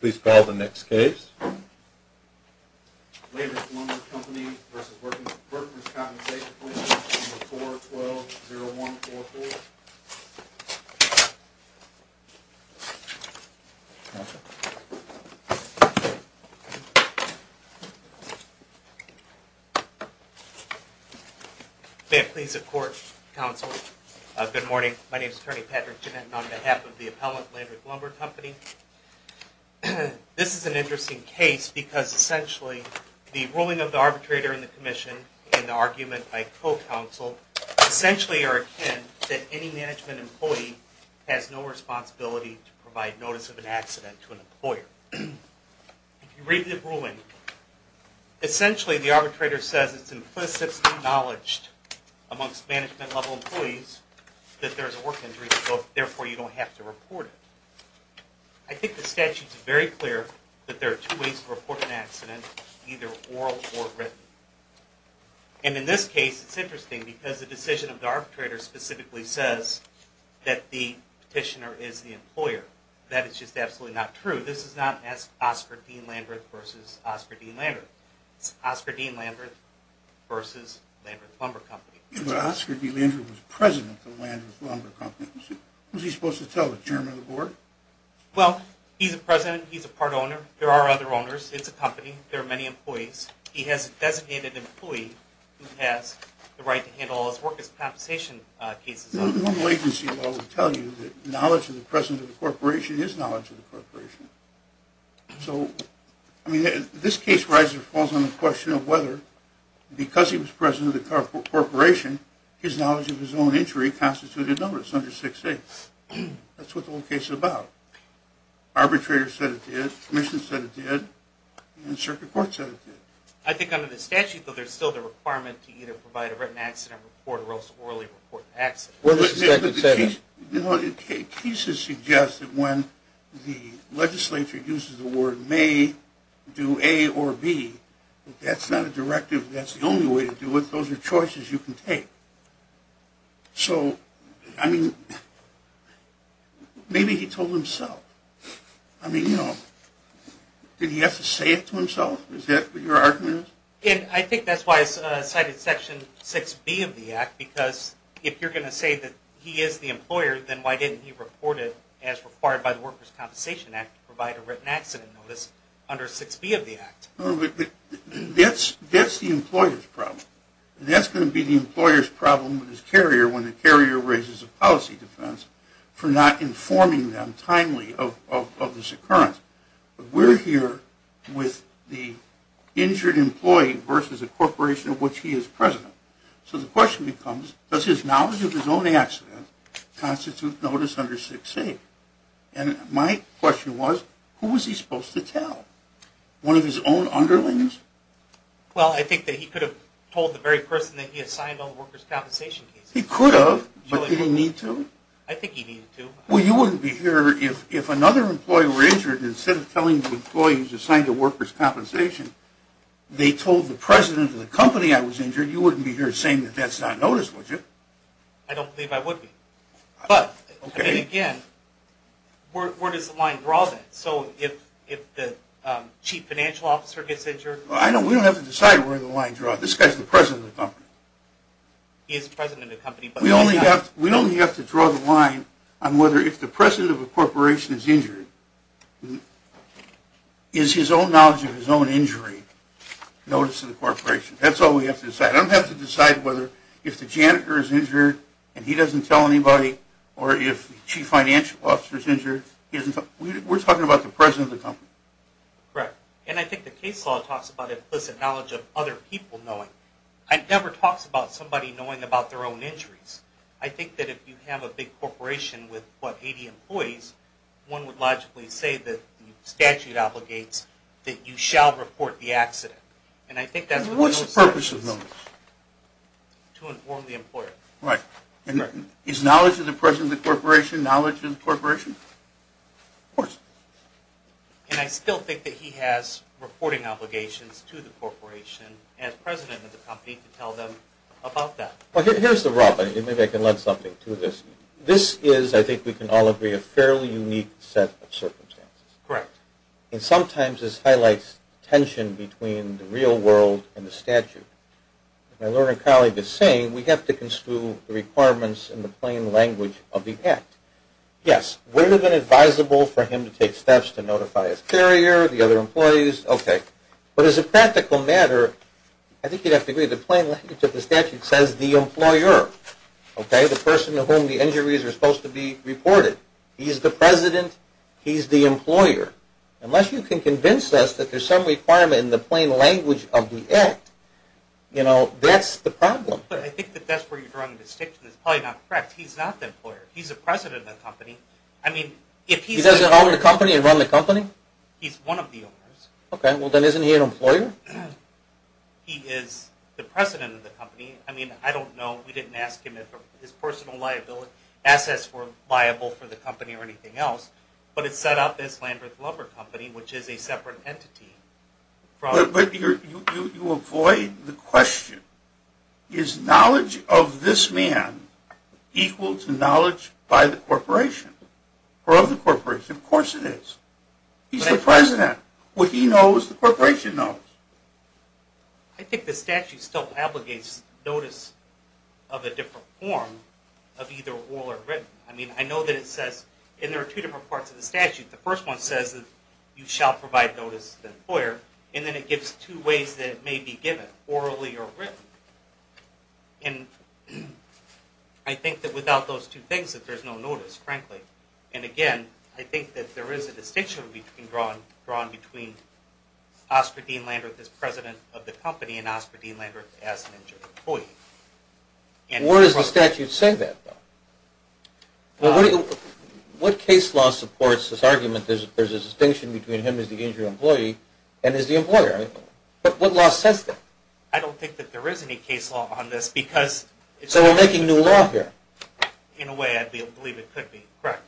Please call the next case. Landreth Lumber Company v. Workers' Compensation Comm'n 412-0144. May it please the Court, Counsel. Good morning. My name is Attorney Patrick Gennett and on behalf of the appellant, Landreth Lumber Company. This is an interesting case because essentially the ruling of the arbitrator in the Commission and the argument by co-counsel essentially are akin that any management employee has no responsibility to provide notice of an accident to an employer. If you read the ruling, essentially the arbitrator says it's implicitly you don't have to report it. I think the statute's very clear that there are two ways to report an accident, either oral or written. And in this case, it's interesting because the decision of the arbitrator specifically says that the petitioner is the employer. That is just absolutely not true. This is not Oscar D. Landreth v. Oscar D. Landreth. It's Oscar D. Landreth v. Landreth Lumber Company. Oscar D. Landreth was president of Landreth Lumber Company. Who's he supposed to tell, the chairman of the board? Well, he's a president. He's a part owner. There are other owners. It's a company. There are many employees. He has a designated employee who has the right to handle all his work as compensation cases. The normal agency law would tell you that knowledge of the president of the corporation is knowledge of the corporation. So, I mean, this case, Reiser, falls on the question of whether, because he was president of the corporation, his knowledge of his own injury constituted a notice under 6A. That's what the whole case is about. Arbitrator said it did, commission said it did, and the circuit court said it did. I think under the statute, though, there's still the requirement to either provide a written accident report or also orally report an accident. Well, the cases suggest that when the legislature uses the word may do A or B, that's not a directive. That's the only way to do it. Those are choices you can take. So, I mean, maybe he told himself. I mean, you know, did he have to say it to himself? Is that what your argument is? And I think that's why it's cited Section 6B of the Act, because if you're going to say that he is the employer, then why didn't he report it as required by the Workers Compensation Act to provide a written accident notice under 6B of the Act? That's the employer's problem. That's going to be the employer's problem with his carrier when the carrier raises a policy defense for not informing them timely of this occurrence. We're here with the injured employee versus a corporation of which he is president. So the question becomes, does his knowledge of his own accident constitute notice under 6A? And my question was, who was he supposed to tell? One of his own underlings? Well, I think that he could have told the very person that he assigned on the Workers Compensation case. He could have, but did he need to? I think he needed to. Well, you wouldn't be here if another employee were injured, and instead of telling the employees assigned to Workers Compensation, they told the president of the company I was injured, you wouldn't be here saying that that's not notice, would you? I don't believe I would be. But, again, where does the line draw then? So if the chief financial officer gets injured? Well, we don't have to decide where the line draws. This guy's the president of the company. He is the president of the company. We only have to draw the line on whether if the president of a corporation is injured, is his own knowledge of his own injury notice to the corporation? That's all we have to decide. I don't have to decide whether if the janitor is injured and he doesn't tell anybody, or if the chief financial officer is injured. We're talking about the president of the company. Correct. And I think the case law talks about implicit knowledge of other people knowing. It never talks about somebody knowing about their own injuries. I think that if you have a big corporation with, what, 80 employees, one would logically say that the statute obligates that you shall report the accident. And I think that's what those say. Implicit knowledge. To inform the employer. Right. Is knowledge of the president of the corporation knowledge of the corporation? Of course. And I still think that he has reporting obligations to the corporation and the president of the company to tell them about that. Well, here's the rub. Maybe I can lend something to this. This is, I think we can all agree, a fairly unique set of circumstances. Correct. And sometimes this highlights tension between the real world and the statute. My learning colleague is saying we have to construe the requirements in the plain language of the act. Yes, would have been advisable for him to take steps to notify his carrier, the other employees. Okay. But as a practical matter, I think you'd have to agree the plain language of the statute says the employer. Okay. The person to whom the injuries are supposed to be reported. He's the president. He's the employer. Unless you can the plain language of the act, you know, that's the problem. But I think that that's where you'd run the distinction. It's probably not correct. He's not the employer. He's the president of the company. I mean, if he doesn't own the company and run the company, he's one of the owners. Okay. Well, then isn't he an employer? He is the president of the company. I mean, I don't know. We didn't ask him if his personal liability assets were liable for the company or separate entity. But you avoid the question. Is knowledge of this man equal to knowledge by the corporation or of the corporation? Of course it is. He's the president. What he knows, the corporation knows. I think the statute still obligates notice of a different form of either oral or written. I mean, I know that it says, and there are two different parts of the statute. The first one says that you shall provide notice to the employer. And then it gives two ways that it may be given, orally or written. And I think that without those two things, that there's no notice, frankly. And again, I think that there is a distinction drawn between Oscar Dean Landreth as president of the company and Oscar Dean Landreth as an injured employee. Where does the statute say that? What case law supports this argument that there's a distinction between him as the injured employee and as the employer? What law says that? I don't think that there is any case law on this because... So we're making new law here? In a way, I believe it could be, correct.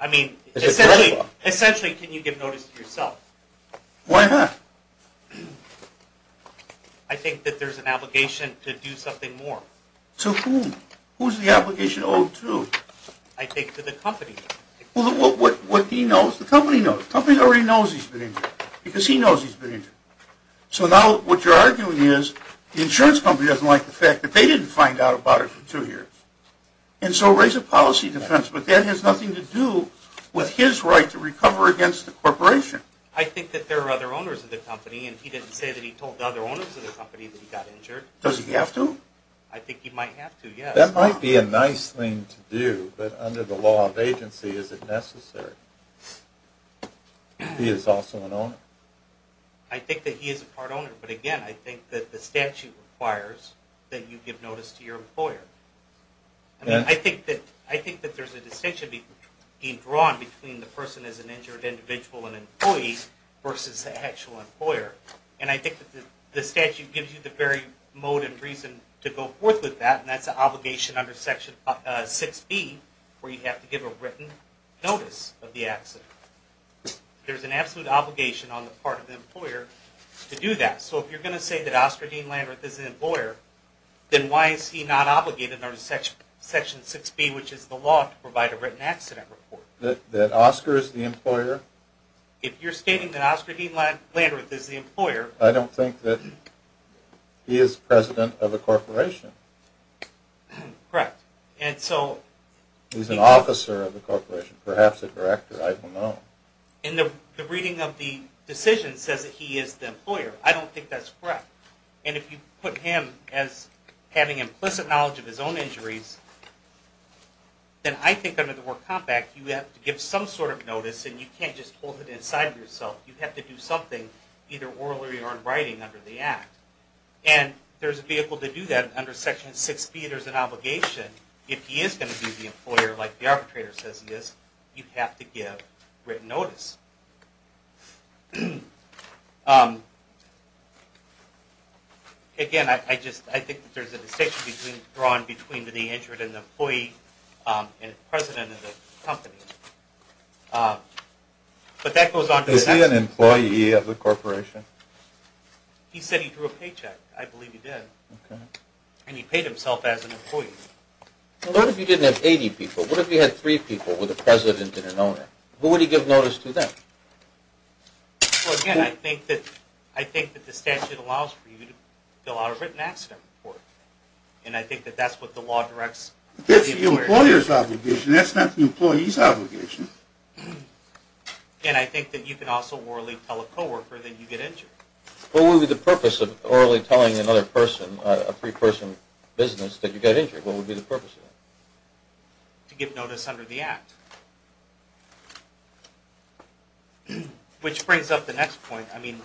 I mean, essentially, can you give notice to yourself? Why not? I think that there's an obligation owed to... I think to the company. Well, what he knows, the company knows. The company already knows he's been injured because he knows he's been injured. So now what you're arguing is the insurance company doesn't like the fact that they didn't find out about it for two years. And so raise a policy defense, but that has nothing to do with his right to recover against the corporation. I think that there are other owners of the company, and he didn't say that he told the other owners of the company that he got injured. Does he have to? I think he might have to, yes. That might be a nice thing to do, but under the law of agency, is it necessary? He is also an owner. I think that he is a part owner, but again, I think that the statute requires that you give notice to your employer. I mean, I think that there's a distinction being drawn between the person as an injured individual and employee versus the actual employer. And I think the statute gives you the very motive reason to go forth with that, and that's an obligation under section 6b, where you have to give a written notice of the accident. There's an absolute obligation on the part of the employer to do that. So if you're going to say that Oscar Dean Landreth is an employer, then why is he not obligated under section 6b, which is the law, to provide a written accident report? That Oscar is the employer? If you're stating that Oscar Dean Landreth is the employer... I don't think that he is president of a corporation. Correct. And so... He's an officer of the corporation, perhaps a director, I don't know. And the reading of the decision says that he is the employer. I don't think that's correct. And if you put him as having implicit knowledge of his own injuries, then I think under the War Compact, you have to give some sort of notice, and you can't just hold it inside yourself. You have to do something either orally or in writing under the Act. And there's a vehicle to do that under section 6b. There's an obligation. If he is going to be the employer, like the arbitrator says he is, you have to give written notice. Again, I just... I think that there's a distinction drawn between the injured and the employee and the president of the company. But that goes on... Is he an employee of the corporation? He said he drew a paycheck. I believe he did. And he paid himself as an employee. What if you didn't have 80 people? What if you had three people with a president and an owner? Who would he give notice to then? Well, again, I think that the statute allows for you to fill out a written accident report. And I think that that's what the law directs. That's the employer's obligation. That's not you can also orally tell a co-worker that you get injured. What would be the purpose of orally telling another person, a three-person business, that you got injured? What would be the purpose of that? To give notice under the Act. Which brings up the next point. I mean,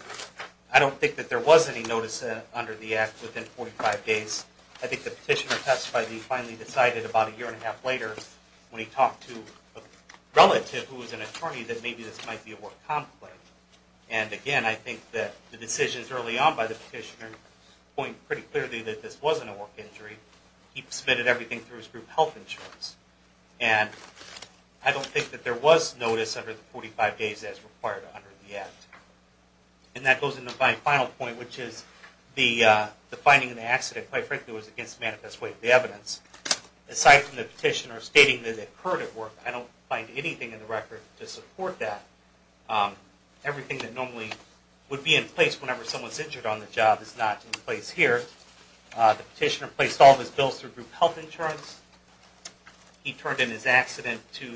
I don't think that there was any notice under the Act within 45 days. I think the petitioner testified that he finally decided about a year and a half later when he talked to a relative who was an attorney that maybe this might be a work conflict. And again, I think that the decisions early on by the petitioner point pretty clearly that this wasn't a work injury. He submitted everything through his group health insurance. And I don't think that there was notice under the 45 days as required under the Act. And that goes into my final point, which is the finding of the accident, quite frankly, was against the manifest way of the evidence. Aside from the petitioner stating that it occurred at work, I don't find anything in the record to support that. Everything that normally would be in place whenever someone's injured on the job is not in place here. The petitioner placed all of his bills through group health insurance. He never turned in his accident to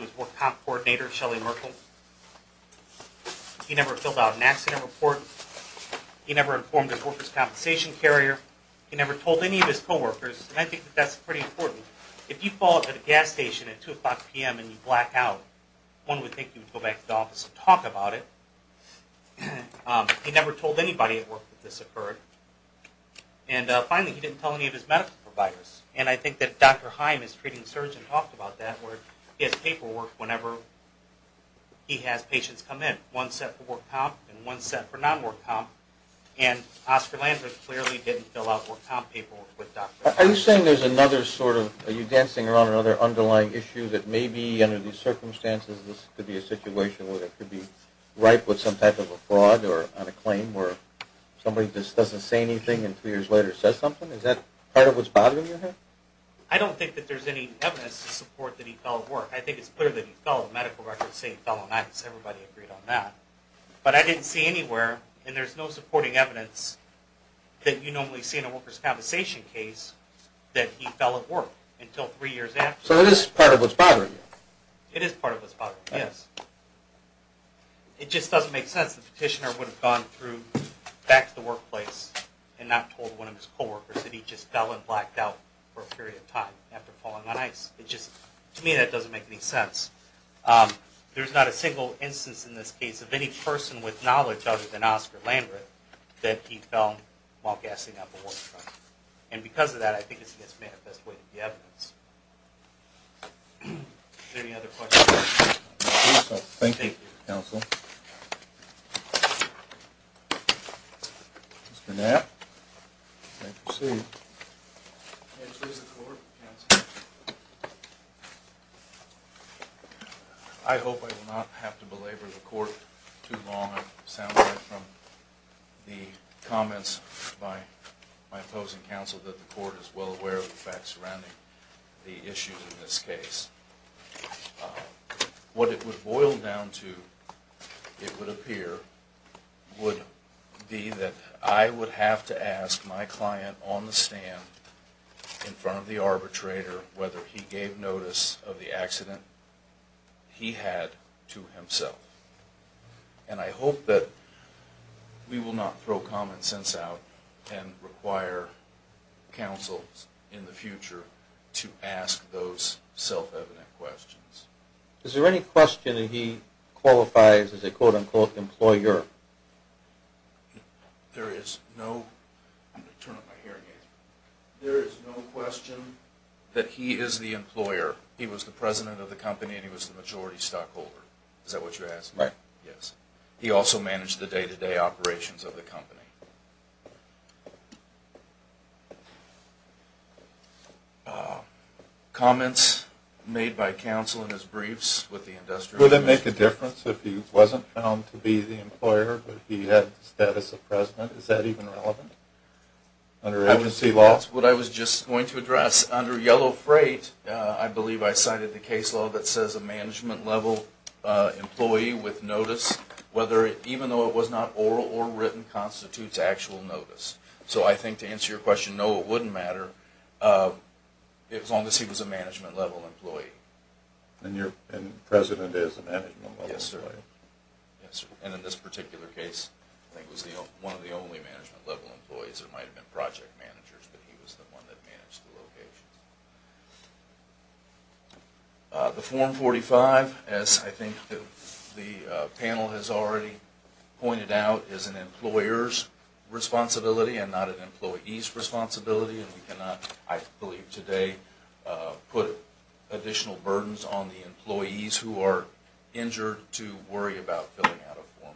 his work comp coordinator, Shelley Merkel. He never filled out an accident report. He never informed his workers' compensation carrier. He never told any of his co-workers. And I think that that's pretty important. If you fall at a gas station at 2 o'clock p.m. and you black out, one would think you'd go back to the office and talk about it. He never told anybody at work that this occurred. And finally, he didn't tell any of his medical providers. And I think that Dr. Heim, his treating surgeon, talked about that where he has paperwork whenever he has patients come in. One set for work comp and Oscar Landry clearly didn't fill out work comp paperwork with Dr. Heim. Are you saying there's another sort of, are you dancing around another underlying issue that maybe under these circumstances this could be a situation where it could be ripe with some type of a fraud or on a claim where somebody just doesn't say anything and three years later says something? Is that part of what's bothering you here? I don't think that there's any evidence to support that he fell at work. I think it's clear that he fell. The medical records say he fell on ice. Everybody agreed on that. But I didn't see anywhere and there's no supporting evidence that you normally see in a worker's compensation case that he fell at work until three years after. So it is part of what's bothering you? It is part of what's bothering me, yes. It just doesn't make sense. The petitioner would have gone through back to the workplace and not told one of his co-workers that he just fell and blacked out for a period of time after falling on ice. It just, to me that doesn't make any sense. There's not a single instance in this case of any person with knowledge other than Oscar Landreth that he fell while gassing up a worker. And because of that I think it's the best way to get evidence. Is there any other questions? Thank you, counsel. Mr. Knapp. I hope I will not have to belabor the court too long. It sounds like from the comments by my opposing counsel that the court is well aware of the facts surrounding the issues in this case. What it would boil down to, it would appear, would be that I would have to ask my client on the stand in front of the arbitrator whether he gave notice of the accident he had to himself. And I hope that we will not throw common sense out and require counsels in the future to ask those self-evident questions. Is there any question that he qualifies as a quote-unquote employer? There is no question that he is the employer. He was the president of the company and he was the majority stockholder. Is that what you're asking? Right. Yes. He also managed the day-to-day operations of the company. Comments made by counsel in his briefs with the industrial... Would it make a difference if he wasn't found to be the employer but he had the status of president? Is that even relevant under agency law? That's what I was just going to address. Under Yellow Freight, I believe I cited the case law that says a management-level employee with notice, even though it was not oral or written, constitutes actual notice. So I think to answer your question, no, it wouldn't matter as long as he was a management-level employee. And the president is a management-level employee? Yes, sir. And in this particular case, I think he was one of the only management-level employees. There might have been project managers, but he was the one that managed the location. The Form 45, as I think the panel has already pointed out, is an employer's responsibility and not an employee's responsibility, and we have additional burdens on the employees who are injured to worry about filling out a Form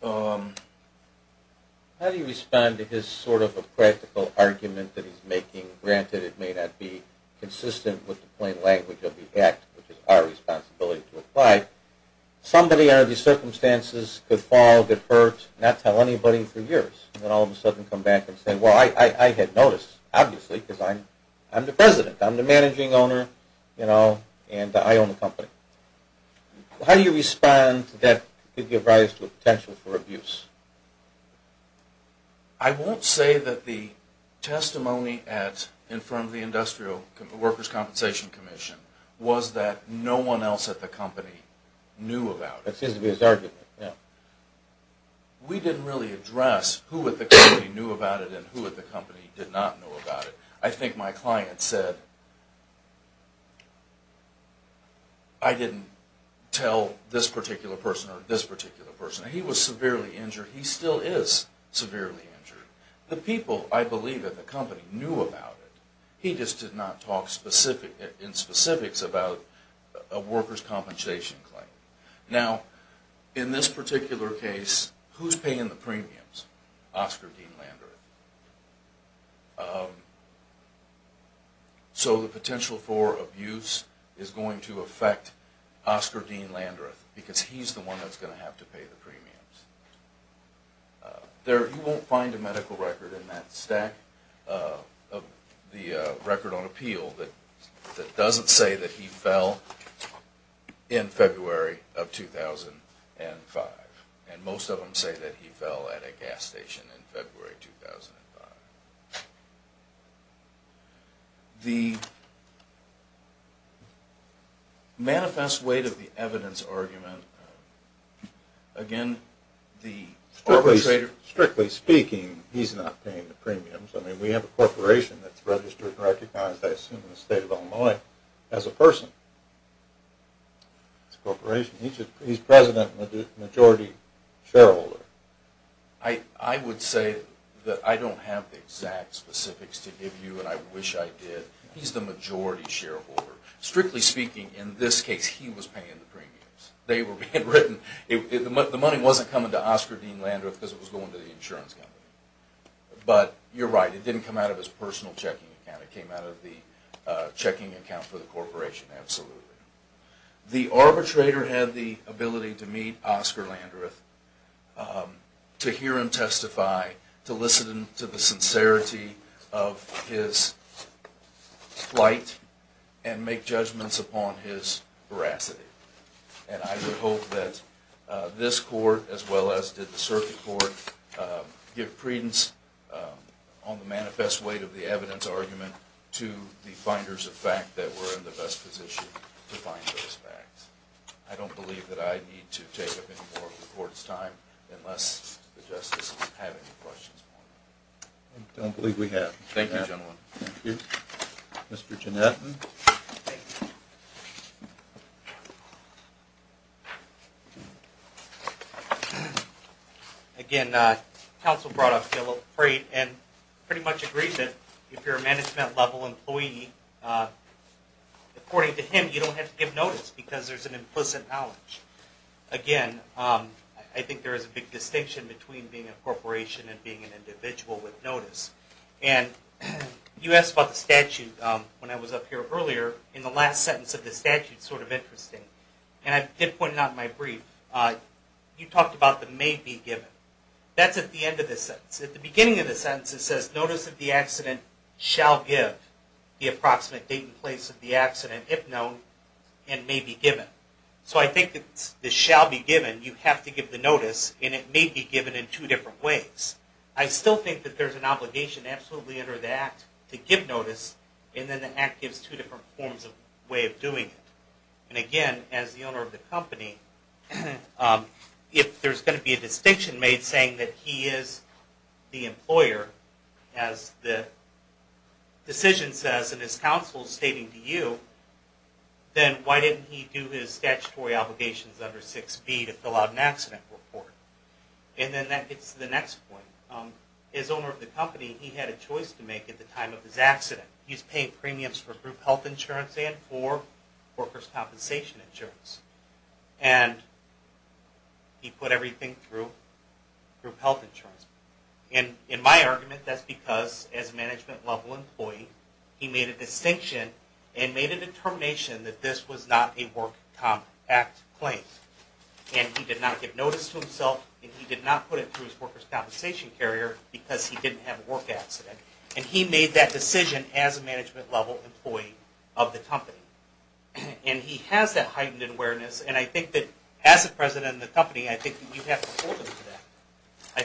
45. How do you respond to his sort of a practical argument that he's making? Granted, it may not be consistent with the plain language of the Act, which is our responsibility to apply. Somebody under these circumstances could fall, get hurt, not tell anybody for years, and all of a sudden come back and say, well, I had notice, obviously, because I'm the president, I'm the managing owner, you know, and I own the company. How do you respond to that to give rise to a potential for abuse? I won't say that the testimony in front of the Industrial Workers' Compensation Commission was that no one else at the company knew about it. It seems to be his argument, yeah. We didn't really address who at the company knew about it and who at the company did not know about it. I think my client said, I didn't tell this particular person or this particular person. He was severely injured. He still is severely injured. The people, I believe, at the company knew about it. He just did not talk in specifics about a workers' compensation claim. Now, in this particular case, who's paying the premiums? Oscar Dean Landreth. So the potential for abuse is going to affect Oscar Dean Landreth because he's the one that's going to have to pay the premiums. You won't find a medical record in that stack of the record on appeal that doesn't say that he fell in February of 2005. And most of them say that he fell at a gas station in February 2005. The manifest weight of the evidence argument, again, the arbitrator... We have a corporation that's registered and recognized, I assume, in the state of Illinois as a person. It's a corporation. He's president and the majority shareholder. I would say that I don't have the exact specifics to give you and I wish I did. He's the majority shareholder. Strictly speaking, in this case, he was paying the premiums. They were being written. The money wasn't coming to Oscar Dean Landreth because it was going to the insurance company. But you're right, it didn't come out of his personal checking account. It came out of the checking account for the corporation, absolutely. The arbitrator had the ability to meet Oscar Landreth, to hear him testify, to listen to the sincerity of his plight and make judgments upon his veracity. And I would hope that this court, as well as did the circuit court, give credence on the manifest weight of the evidence argument to the finders of fact that we're in the best position to find those facts. I don't believe that I need to take up any more of the court's time unless the justices have any questions. I don't believe we have. Thank you, counsel. Again, counsel brought up Bill Freight and pretty much agreed that if you're a management level employee, according to him, you don't have to give notice because there's an implicit knowledge. Again, I think there is a big distinction between being a corporation and being an individual with notice. And you asked about the statute when I was up earlier in the last sentence of the statute, sort of interesting. And I did point it out in my brief. You talked about the may be given. That's at the end of the sentence. At the beginning of the sentence it says, notice of the accident shall give the approximate date and place of the accident, if known, and may be given. So I think it's the shall be given, you have to give the notice, and it may be given in two different ways. I still think that there's an obligation absolutely under the Act to give notice, and then the Act gives two different forms of way of doing it. And again, as the owner of the company, if there's going to be a distinction made saying that he is the employer, as the decision says in his counsel's stating to you, then why didn't he do his statutory obligations under 6b to fill out an accident report? And then that gets to the next point. As owner of the company, he had a choice to make at the time of his accident. He's paying premiums for group health insurance and for workers' compensation insurance. And he put everything through group health insurance. And in my argument, that's because as a management level employee, he made a distinction and made a determination that this was not a Work Comp Act claim. And he did not give notice to himself, and he did not put it through his workers' compensation carrier because he didn't have a work accident. And he made that decision as a management level employee of the company. And he has that heightened awareness, and I think that as the president of the company, I think that we have to hold him to that.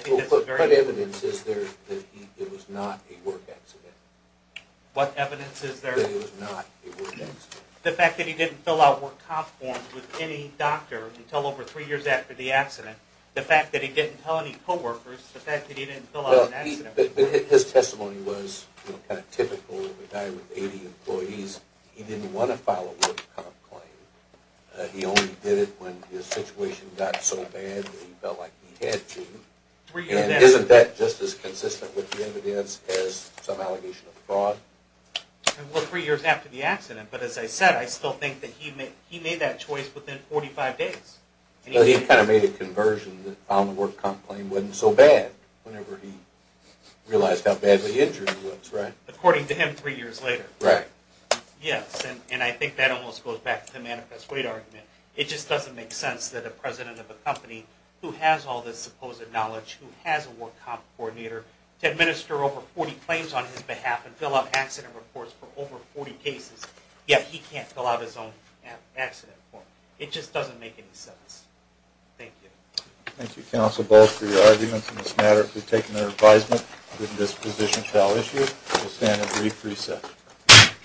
Well, what evidence is there that it was not a work accident? What evidence is there? That it was not a work accident. The fact that he didn't fill out work comp forms with any doctor until over three years after the accident. The fact that he didn't tell any co-workers. The fact that he didn't fill out an accident report. His testimony was kind of typical of a guy with 80 employees. He didn't want to file a work comp claim. He only did it when his situation got so bad that he felt like he had to. Isn't that just as consistent with the evidence as some allegation of fraud? Well, three years after the accident, but as I said, I still think that he made that choice within 45 days. He kind of made a conversion that found the work comp claim wasn't so bad whenever he realized how badly injured he was, right? According to him three years later. Right. Yes, and I think that almost goes back to the manifest weight argument. It just doesn't make sense that a president of a company who has all this supposed knowledge, who has a 40 claims on his behalf and fill up accident reports for over 40 cases. Yet he can't fill out his own accident form. It just doesn't make any sense. Thank you. Thank you, counsel, both for your arguments in this matter. If we've taken their advisement, this position shall issue a brief reset.